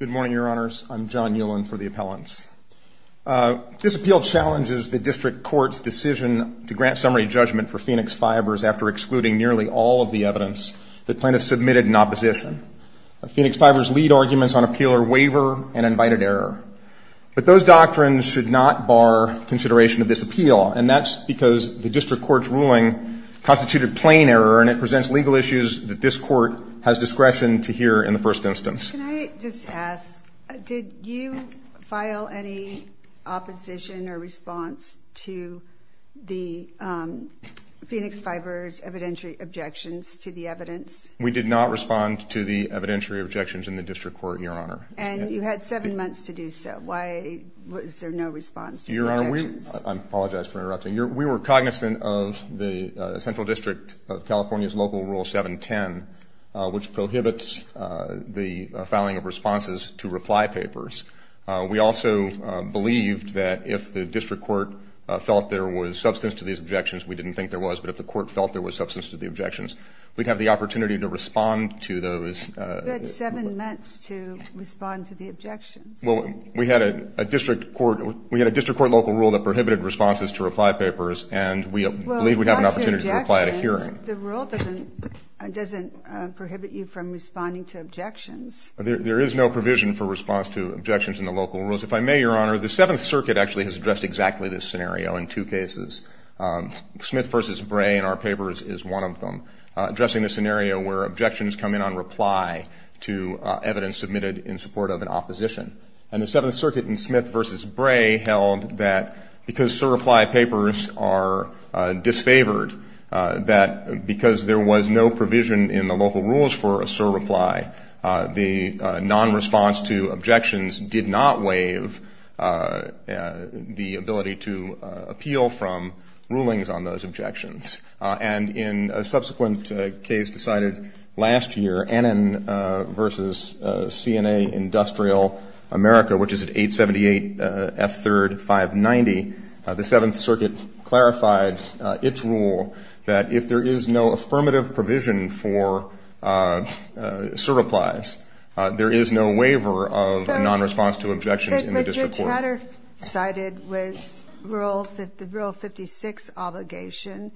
Good morning, Your Honors. I'm John Ulan for the appellants. This appeal challenges the district court's decision to grant summary judgment for Phoenix Fibers after excluding nearly all of the evidence that plaintiffs submitted in opposition. Phoenix Fibers' lead arguments on appeal are waiver and invited error. But those doctrines should not bar consideration of this appeal, and that's because the district court's ruling constituted plain error, and it presents legal issues that this court has discretion to hear in the first instance. Can I just ask, did you file any opposition or response to the Phoenix Fibers' evidentiary objections to the evidence? We did not respond to the evidentiary objections in the district court, Your Honor. And you had seven months to do so. Why was there no response to the objections? I apologize for interrupting. We were cognizant of the central district of California's local rule 710, which prohibits the filing of responses to reply papers. We also believed that if the district court felt there was substance to these objections, we didn't think there was, but if the court felt there was substance to the objections, we'd have the opportunity to respond to those. You had seven months to respond to the objections. Well, we had a district court local rule that prohibited responses to reply papers, and we believed we'd have an opportunity to reply at a hearing. Well, not to objections. The rule doesn't prohibit you from responding to objections. There is no provision for response to objections in the local rules. If I may, Your Honor, the Seventh Circuit actually has addressed exactly this scenario in two cases. Smith v. Bray in our papers is one of them, addressing the scenario where objections come in on reply to evidence submitted in support of an opposition. And the Seventh Circuit in Smith v. Bray held that because surreply papers are disfavored, that because there was no provision in the local rules for a surreply, the non-response to objections did not waive the ability to appeal from rulings on those objections. And in a subsequent case decided last year, Annan v. CNA Industrial America, which is at 878 F3rd 590, the Seventh Circuit clarified its rule that if there is no affirmative provision for surreplies, there is no waiver of non-response to objections in the district court. The matter cited was the Rule 56 obligation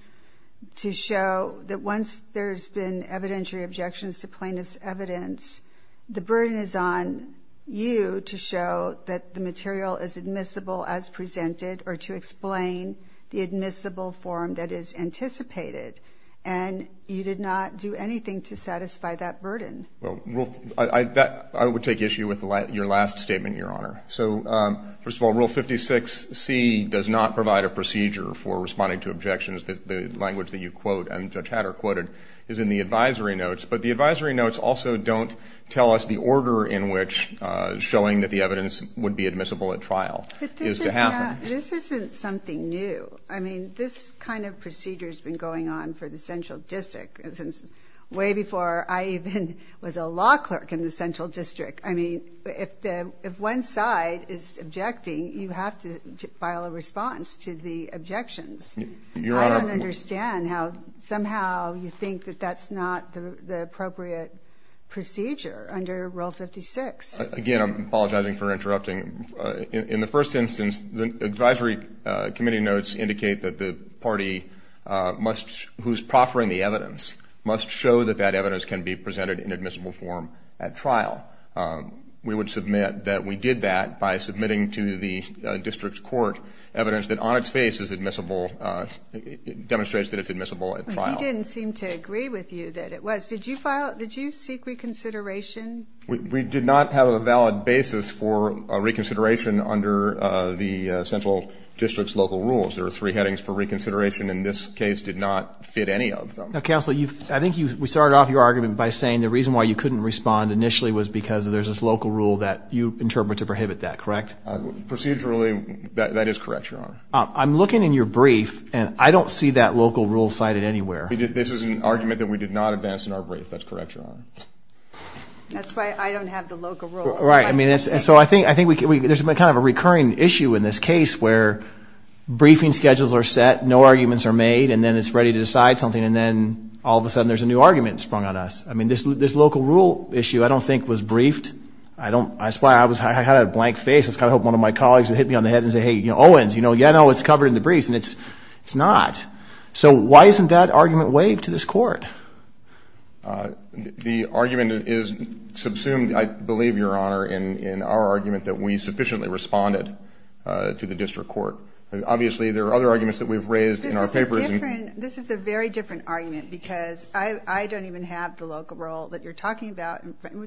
to show that once there's been evidentiary objections to plaintiff's evidence, the burden is on you to show that the material is admissible as presented or to explain the admissible form that is anticipated. And you did not do anything to satisfy that burden. Well, I would take issue with your last statement, Your Honor. So first of all, Rule 56C does not provide a procedure for responding to objections. The language that you quote and Judge Hatter quoted is in the advisory notes, but the advisory notes also don't tell us the order in which showing that the evidence would be admissible at trial is to happen. But this isn't something new. I mean, this kind of procedure has been going on for the Central District since way before I even was a law clerk in the Central District. I mean, if one side is objecting, you have to file a response to the objections. I don't understand how somehow you think that that's not the appropriate procedure under Rule 56. Again, I'm apologizing for interrupting. In the first instance, the advisory committee notes indicate that the party who's proffering the evidence must show that that evidence can be presented in admissible form at trial. We would submit that we did that by submitting to the district court evidence that on its face is admissible, demonstrates that it's admissible at trial. He didn't seem to agree with you that it was. Did you seek reconsideration? We did not have a valid basis for reconsideration under the Central District's local rules. There are three headings for reconsideration, and this case did not fit any of them. Counsel, I think we started off your argument by saying the reason why you couldn't respond initially was because there's this local rule that you interpret to prohibit that, correct? Procedurally, that is correct, Your Honor. I'm looking in your brief, and I don't see that local rule cited anywhere. This is an argument that we did not advance in our brief. That's correct, Your Honor. That's why I don't have the local rule. Right. So I think there's kind of a recurring issue in this case where briefing schedules are set, no arguments are made, and then it's ready to decide something, and then all of a sudden there's a new argument sprung on us. I mean, this local rule issue I don't think was briefed. I don't – that's why I was – I had a blank face. I was kind of hoping one of my colleagues would hit me on the head and say, hey, you know, Owens, you know, yeah, no, it's covered in the briefs, and it's not. So why isn't that argument waived to this court? The argument is subsumed, I believe, Your Honor, in our argument that we sufficiently responded to the district court. Obviously, there are other arguments that we've raised in our papers. This is a different – this is a very different argument because I don't even have the local rule that you're talking about.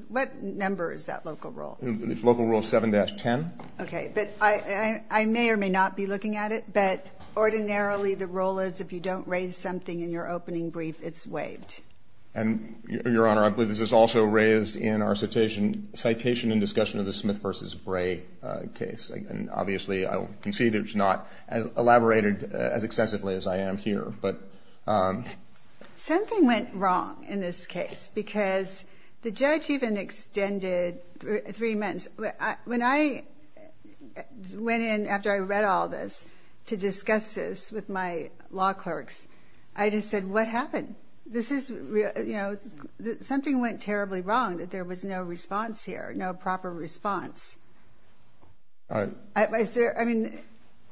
What number is that local rule? It's local rule 7-10. Okay. But I may or may not be looking at it, but ordinarily the rule is if you don't raise something in your opening brief, it's waived. And, Your Honor, I believe this is also raised in our citation and discussion of the Smith v. Bray case. And, obviously, I will concede it's not elaborated as excessively as I am here, but. Something went wrong in this case because the judge even extended three months. When I went in after I read all this to discuss this with my law clerks, I just said, what happened? This is – you know, something went terribly wrong that there was no response here, no proper response. Is there – I mean,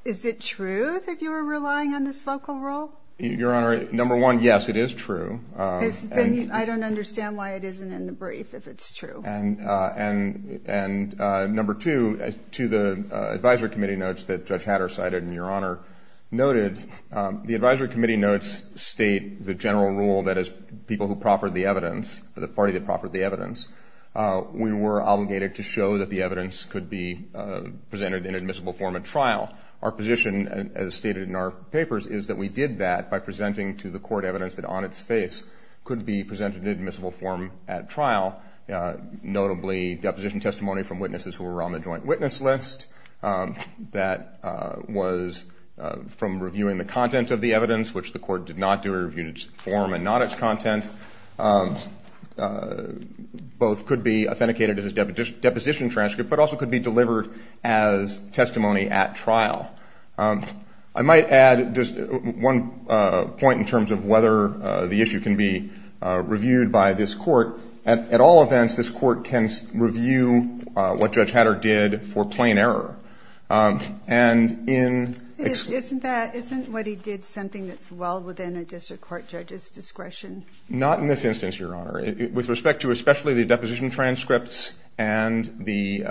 is it true that you are relying on this local rule? Your Honor, number one, yes, it is true. Then I don't understand why it isn't in the brief if it's true. And number two, to the advisory committee notes that Judge Hatter cited and Your Honor noted, the advisory committee notes state the general rule that as people who proffered the evidence, the party that proffered the evidence, we were obligated to show that the evidence could be presented in admissible form at trial. Our position, as stated in our papers, is that we did that by presenting to the court evidence that on its face could be presented in admissible form at trial, notably deposition testimony from witnesses who were on the joint witness list. That was from reviewing the content of the evidence, which the court did not do. It reviewed its form and not its content. Both could be authenticated as a deposition transcript, but also could be delivered as testimony at trial. I might add just one point in terms of whether the issue can be reviewed by this court. At all events, this court can review what Judge Hatter did for plain error. And in- Isn't what he did something that's well within a district court judge's discretion? Not in this instance, Your Honor. With respect to especially the deposition transcripts and the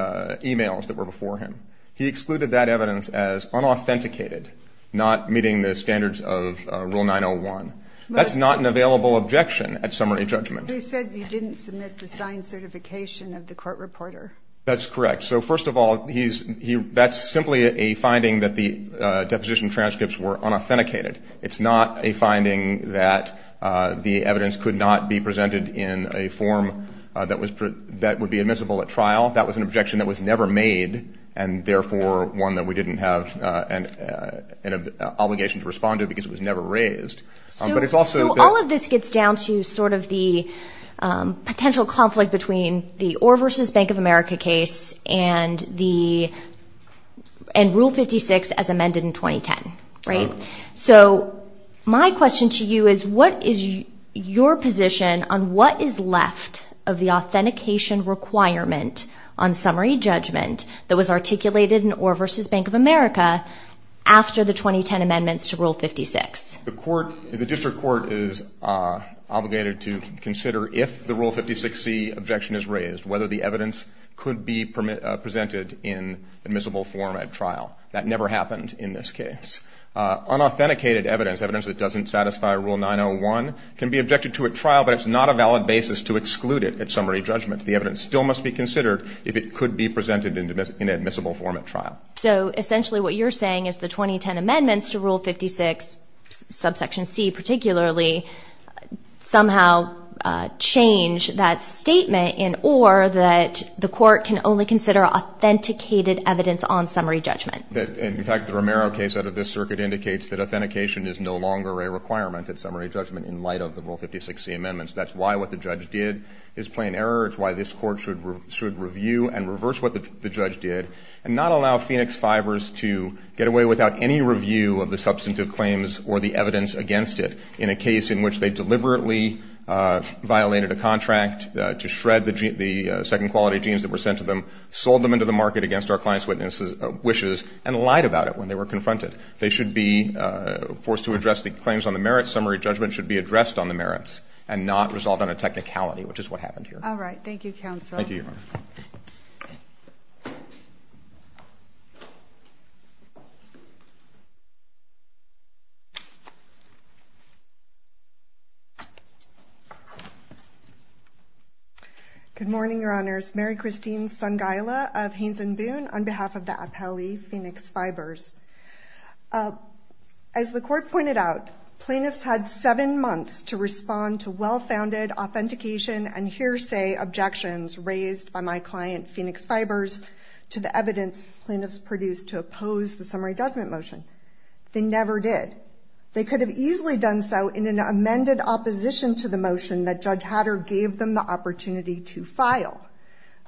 e-mails that were before him, he excluded that evidence as unauthenticated, not meeting the standards of Rule 901. That's not an available objection at summary judgment. But he said you didn't submit the signed certification of the court reporter. That's correct. So, first of all, that's simply a finding that the deposition transcripts were unauthenticated. It's not a finding that the evidence could not be presented in a form that would be admissible at trial. That was an objection that was never made and, therefore, one that we didn't have an obligation to respond to because it was never raised. So all of this gets down to sort of the potential conflict between the Orr v. Bank of America case and Rule 56 as amended in 2010, right? So my question to you is what is your position on what is left of the authentication requirement on summary judgment that was articulated in Orr v. Bank of America after the 2010 amendments to Rule 56? The court, the district court is obligated to consider if the Rule 56c objection is raised, whether the evidence could be presented in admissible form at trial. That never happened in this case. Unauthenticated evidence, evidence that doesn't satisfy Rule 901, can be objected to at trial, but it's not a valid basis to exclude it at summary judgment. The evidence still must be considered if it could be presented in admissible form at trial. So essentially what you're saying is the 2010 amendments to Rule 56, subsection c particularly, somehow change that statement in Orr that the court can only consider authenticated evidence on summary judgment. In fact, the Romero case out of this circuit indicates that authentication is no longer a requirement at summary judgment in light of the Rule 56c amendments. That's why what the judge did is plain error. It's why this court should review and reverse what the judge did and not allow Phoenix Fibers to get away without any review of the substantive claims or the evidence against it in a case in which they deliberately violated a contract to shred the second quality genes that were sent to them, sold them into the market against our client's wishes, and lied about it when they were confronted. They should be forced to address the claims on the merits. Summary judgment should be addressed on the merits and not resolved on a technicality, which is what happened here. All right. Thank you, counsel. Thank you, Your Honor. Thank you. Good morning, Your Honors. Mary Christine Sangaila of Haines and Boone on behalf of the appellee, Phoenix Fibers. As the court pointed out, plaintiffs had seven months to respond to well-founded authentication and hearsay objections raised by my client, Phoenix Fibers, to the evidence plaintiffs produced to oppose the summary judgment motion. They never did. They could have easily done so in an amended opposition to the motion that Judge Hatter gave them the opportunity to file.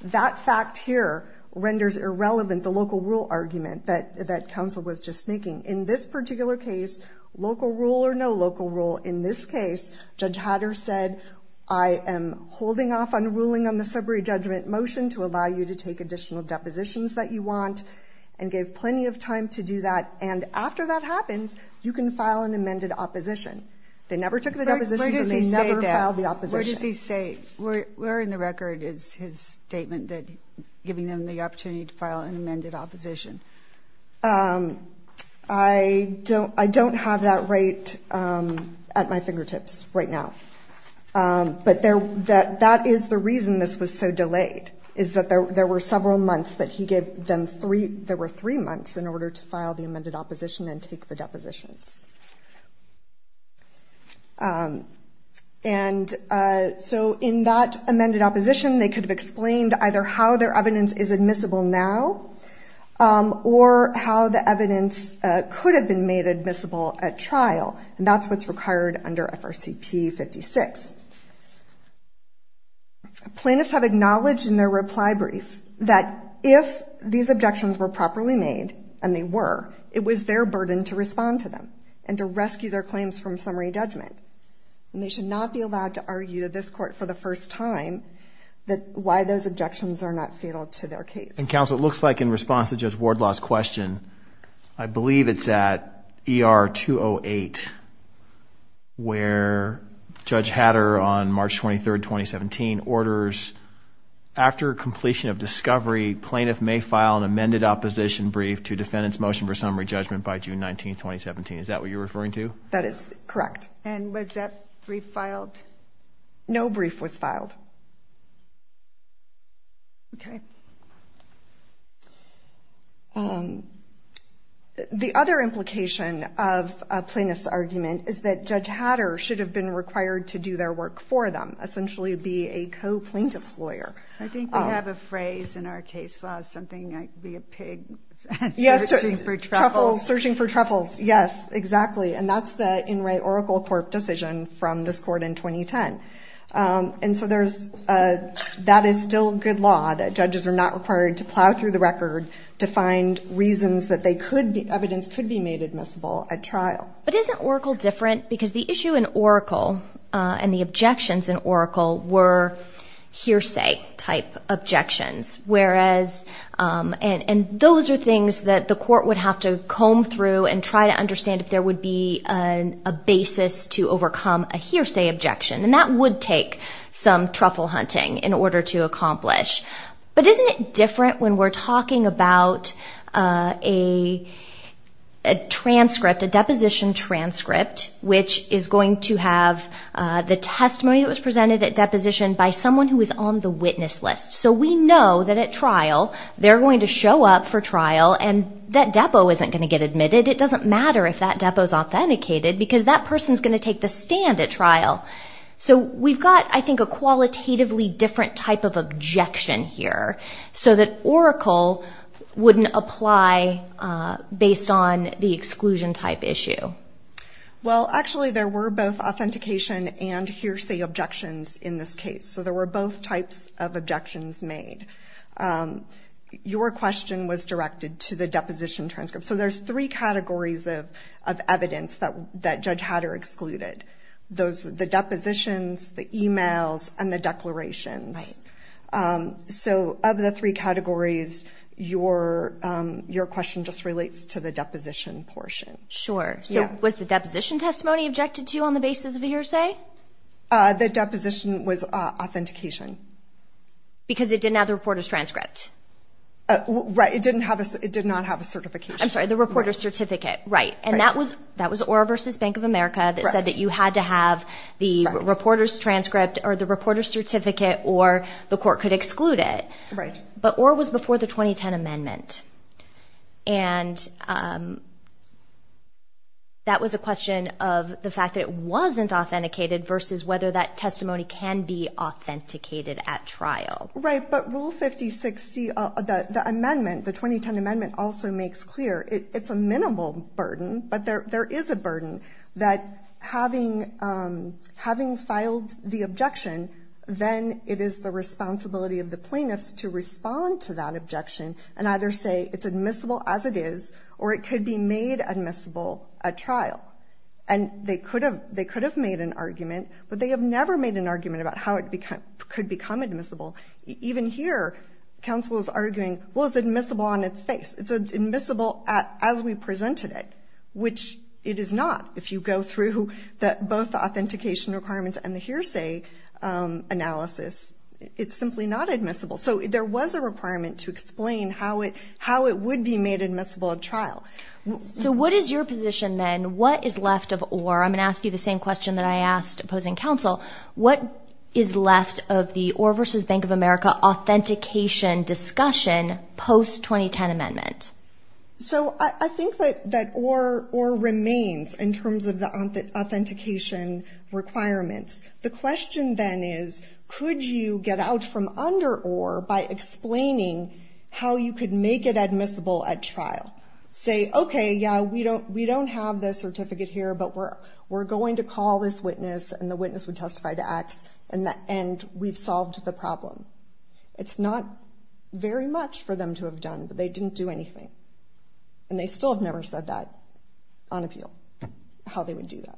That fact here renders irrelevant the local rule argument that counsel was just making. In this particular case, local rule or no local rule, in this case, Judge Hatter said I am holding off on ruling on the summary judgment motion to allow you to take additional depositions that you want and gave plenty of time to do that. And after that happens, you can file an amended opposition. They never took the depositions and they never filed the opposition. Where does he say that? Where in the record is his statement that giving them the opportunity to file an amended opposition? I don't have that right at my fingertips right now. But that is the reason this was so delayed, is that there were several months that he gave them three, there were three months in order to file the amended opposition and take the depositions. And so in that amended opposition, they could have explained either how their evidence is admissible now or how the evidence could have been made admissible at trial, and that's what's required under FRCP 56. Plaintiffs have acknowledged in their reply brief that if these objections were properly made, and they were, it was their burden to respond to them and to rescue their claims from summary judgment. And they should not be allowed to argue to this court for the first time why those objections are not fatal to their case. And counsel, it looks like in response to Judge Wardlaw's question, I believe it's at ER 208 where Judge Hatter on March 23, 2017, orders after completion of discovery, plaintiff may file an amended opposition brief to defend its motion for summary judgment by June 19, 2017. Is that what you're referring to? That is correct. And was that brief filed? No brief was filed. Okay. The other implication of a plaintiff's argument is that Judge Hatter should have been required to do their work for them, essentially be a co-plaintiff's lawyer. I think we have a phrase in our case law, something like be a pig searching for truffles. Yes, searching for truffles, yes, exactly. And that's the In Re Oracle Court decision from this court in 2010. And so that is still good law, that judges are not required to plow through the record to find reasons that evidence could be made admissible at trial. But isn't Oracle different? Because the issue in Oracle and the objections in Oracle were hearsay-type objections. And those are things that the court would have to comb through and try to understand if there would be a basis to overcome a hearsay objection. And that would take some truffle hunting in order to accomplish. But isn't it different when we're talking about a transcript, a deposition transcript, which is going to have the testimony that was presented at deposition by someone who is on the witness list? So we know that at trial they're going to show up for trial and that depo isn't going to get admitted. It doesn't matter if that depo is authenticated because that person is going to take the stand at trial. So we've got, I think, a qualitatively different type of objection here so that Oracle wouldn't apply based on the exclusion-type issue. Well, actually there were both authentication and hearsay objections in this case. So there were both types of objections made. Your question was directed to the deposition transcript. So there's three categories of evidence that Judge Hatter excluded, the depositions, the e-mails, and the declarations. So of the three categories, your question just relates to the deposition portion. Sure. So was the deposition testimony objected to on the basis of a hearsay? The deposition was authentication. Because it didn't have the reporter's transcript. Right. It did not have a certification. I'm sorry, the reporter's certificate. Right. And that was ORA versus Bank of America that said that you had to have the reporter's transcript or the reporter's certificate or the court could exclude it. Right. But ORA was before the 2010 amendment. And that was a question of the fact that it wasn't authenticated versus whether that testimony can be authenticated at trial. Right. But Rule 5060, the amendment, the 2010 amendment, also makes clear it's a minimal burden, but there is a burden that having filed the objection, then it is the responsibility of the plaintiffs to respond to that objection and either say it's admissible as it is or it could be made admissible at trial. And they could have made an argument, but they have never made an argument about how it could become admissible. Even here, counsel is arguing, well, it's admissible on its face. It's admissible as we presented it, which it is not. If you go through both the authentication requirements and the hearsay analysis, it's simply not admissible. So there was a requirement to explain how it would be made admissible at trial. So what is your position then? What is left of ORA? I'm going to ask you the same question that I asked opposing counsel. What is left of the ORA versus Bank of America authentication discussion post-2010 amendment? So I think that ORA remains in terms of the authentication requirements. The question then is, could you get out from under ORA by explaining how you could make it admissible at trial? Say, okay, yeah, we don't have the certificate here, but we're going to call this witness and the witness would testify to X, and we've solved the problem. It's not very much for them to have done, but they didn't do anything. And they still have never said that on appeal, how they would do that.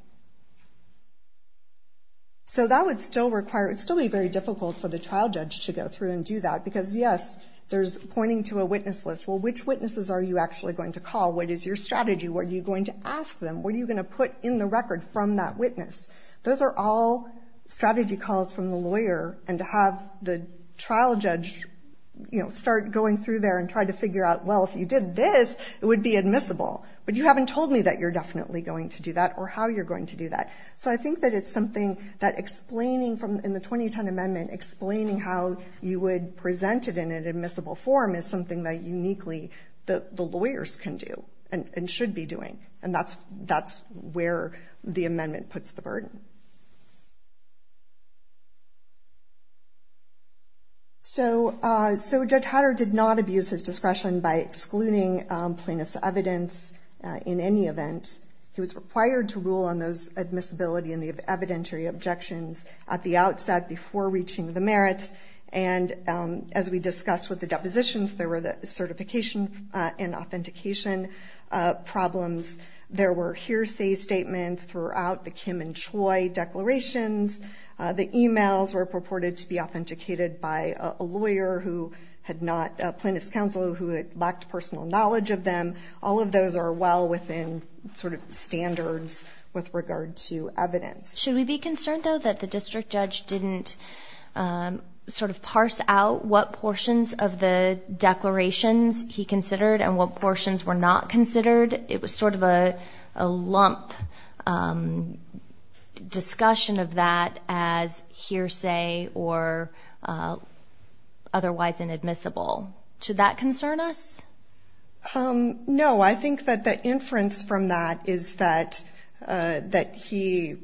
So that would still require, it would still be very difficult for the trial judge to go through and do that, because, yes, there's pointing to a witness list. Well, which witnesses are you actually going to call? What is your strategy? What are you going to ask them? What are you going to put in the record from that witness? Those are all strategy calls from the lawyer, and to have the trial judge, you know, start going through there and try to figure out, well, if you did this, it would be admissible. But you haven't told me that you're definitely going to do that or how you're going to do that. So I think that it's something that explaining from in the 2010 amendment, explaining how you would present it in an admissible form is something that uniquely the lawyers can do and should be doing, and that's where the amendment puts the burden. So Judge Hatter did not abuse his discretion by excluding plaintiff's evidence in any event. He was required to rule on those admissibility and the evidentiary objections at the outset before reaching the merits. And as we discussed with the depositions, there were the certification and authentication problems. There were hearsay statements throughout the Kim and Choi declarations. The e-mails were purported to be authenticated by a lawyer who had not, a plaintiff's counsel who had lacked personal knowledge of them. All of those are well within sort of standards with regard to evidence. Should we be concerned, though, that the district judge didn't sort of parse out what portions of the declarations he considered and what portions were not considered? It was sort of a lump discussion of that as hearsay or otherwise inadmissible. Should that concern us? No. I think that the inference from that is that he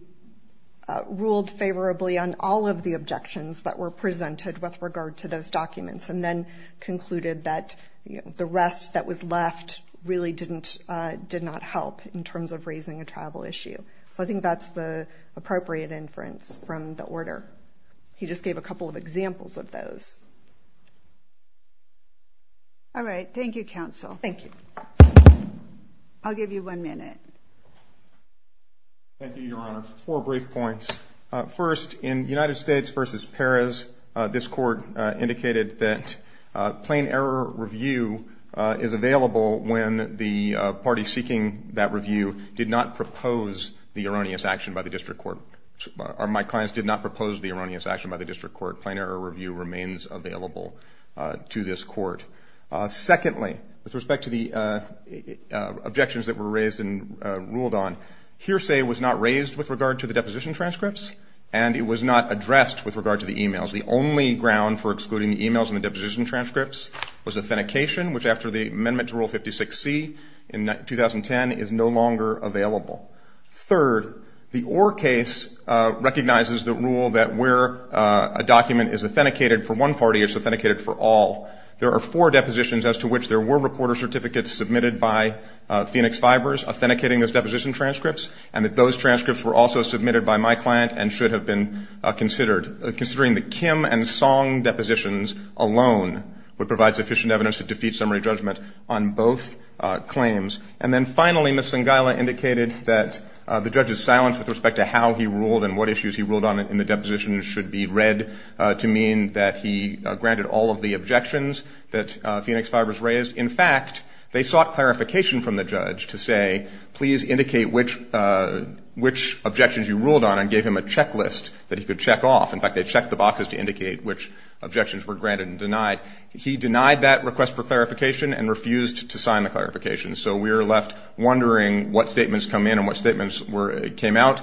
ruled favorably on all of the objections that were presented with regard to those documents and then concluded that the rest that was left really did not help in terms of raising a travel issue. So I think that's the appropriate inference from the order. He just gave a couple of examples of those. All right. Thank you, counsel. Thank you. I'll give you one minute. Thank you, Your Honor. Four brief points. First, in United States v. Perez, this court indicated that plain error review is available when the party seeking that review did not propose the erroneous action by the district court. My clients did not propose the erroneous action by the district court. Plain error review remains available to this court. Secondly, with respect to the objections that were raised and ruled on, hearsay was not raised with regard to the deposition transcripts and it was not addressed with regard to the e-mails. The only ground for excluding the e-mails and the deposition transcripts was authentication, which after the amendment to Rule 56C in 2010 is no longer available. Third, the Orr case recognizes the rule that where a document is authenticated for one party, it's authenticated for all. There are four depositions as to which there were reporter certificates submitted by Phoenix Fibers authenticating those deposition transcripts, and that those transcripts were also submitted by my client and should have been considered, considering the Kim and Song depositions alone would provide sufficient evidence to defeat summary judgment on both claims. And then finally, Ms. Sangaila indicated that the judge's silence with respect to how he ruled and what issues he ruled on in the deposition should be read to mean that he granted all of the objections that Phoenix Fibers raised. In fact, they sought clarification from the judge to say, please indicate which objections you ruled on and gave him a checklist that he could check off. In fact, they checked the boxes to indicate which objections were granted and denied. He denied that request for clarification and refused to sign the clarification. So we are left wondering what statements come in and what statements came out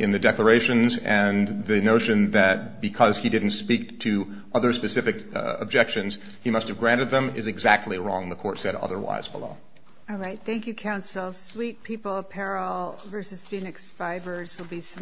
in the declarations and the notion that because he didn't speak to other specific objections, he must have granted them is exactly wrong. The court said otherwise below. All right. Thank you, counsel. Sweet People Apparel v. Phoenix Fibers will be submitted.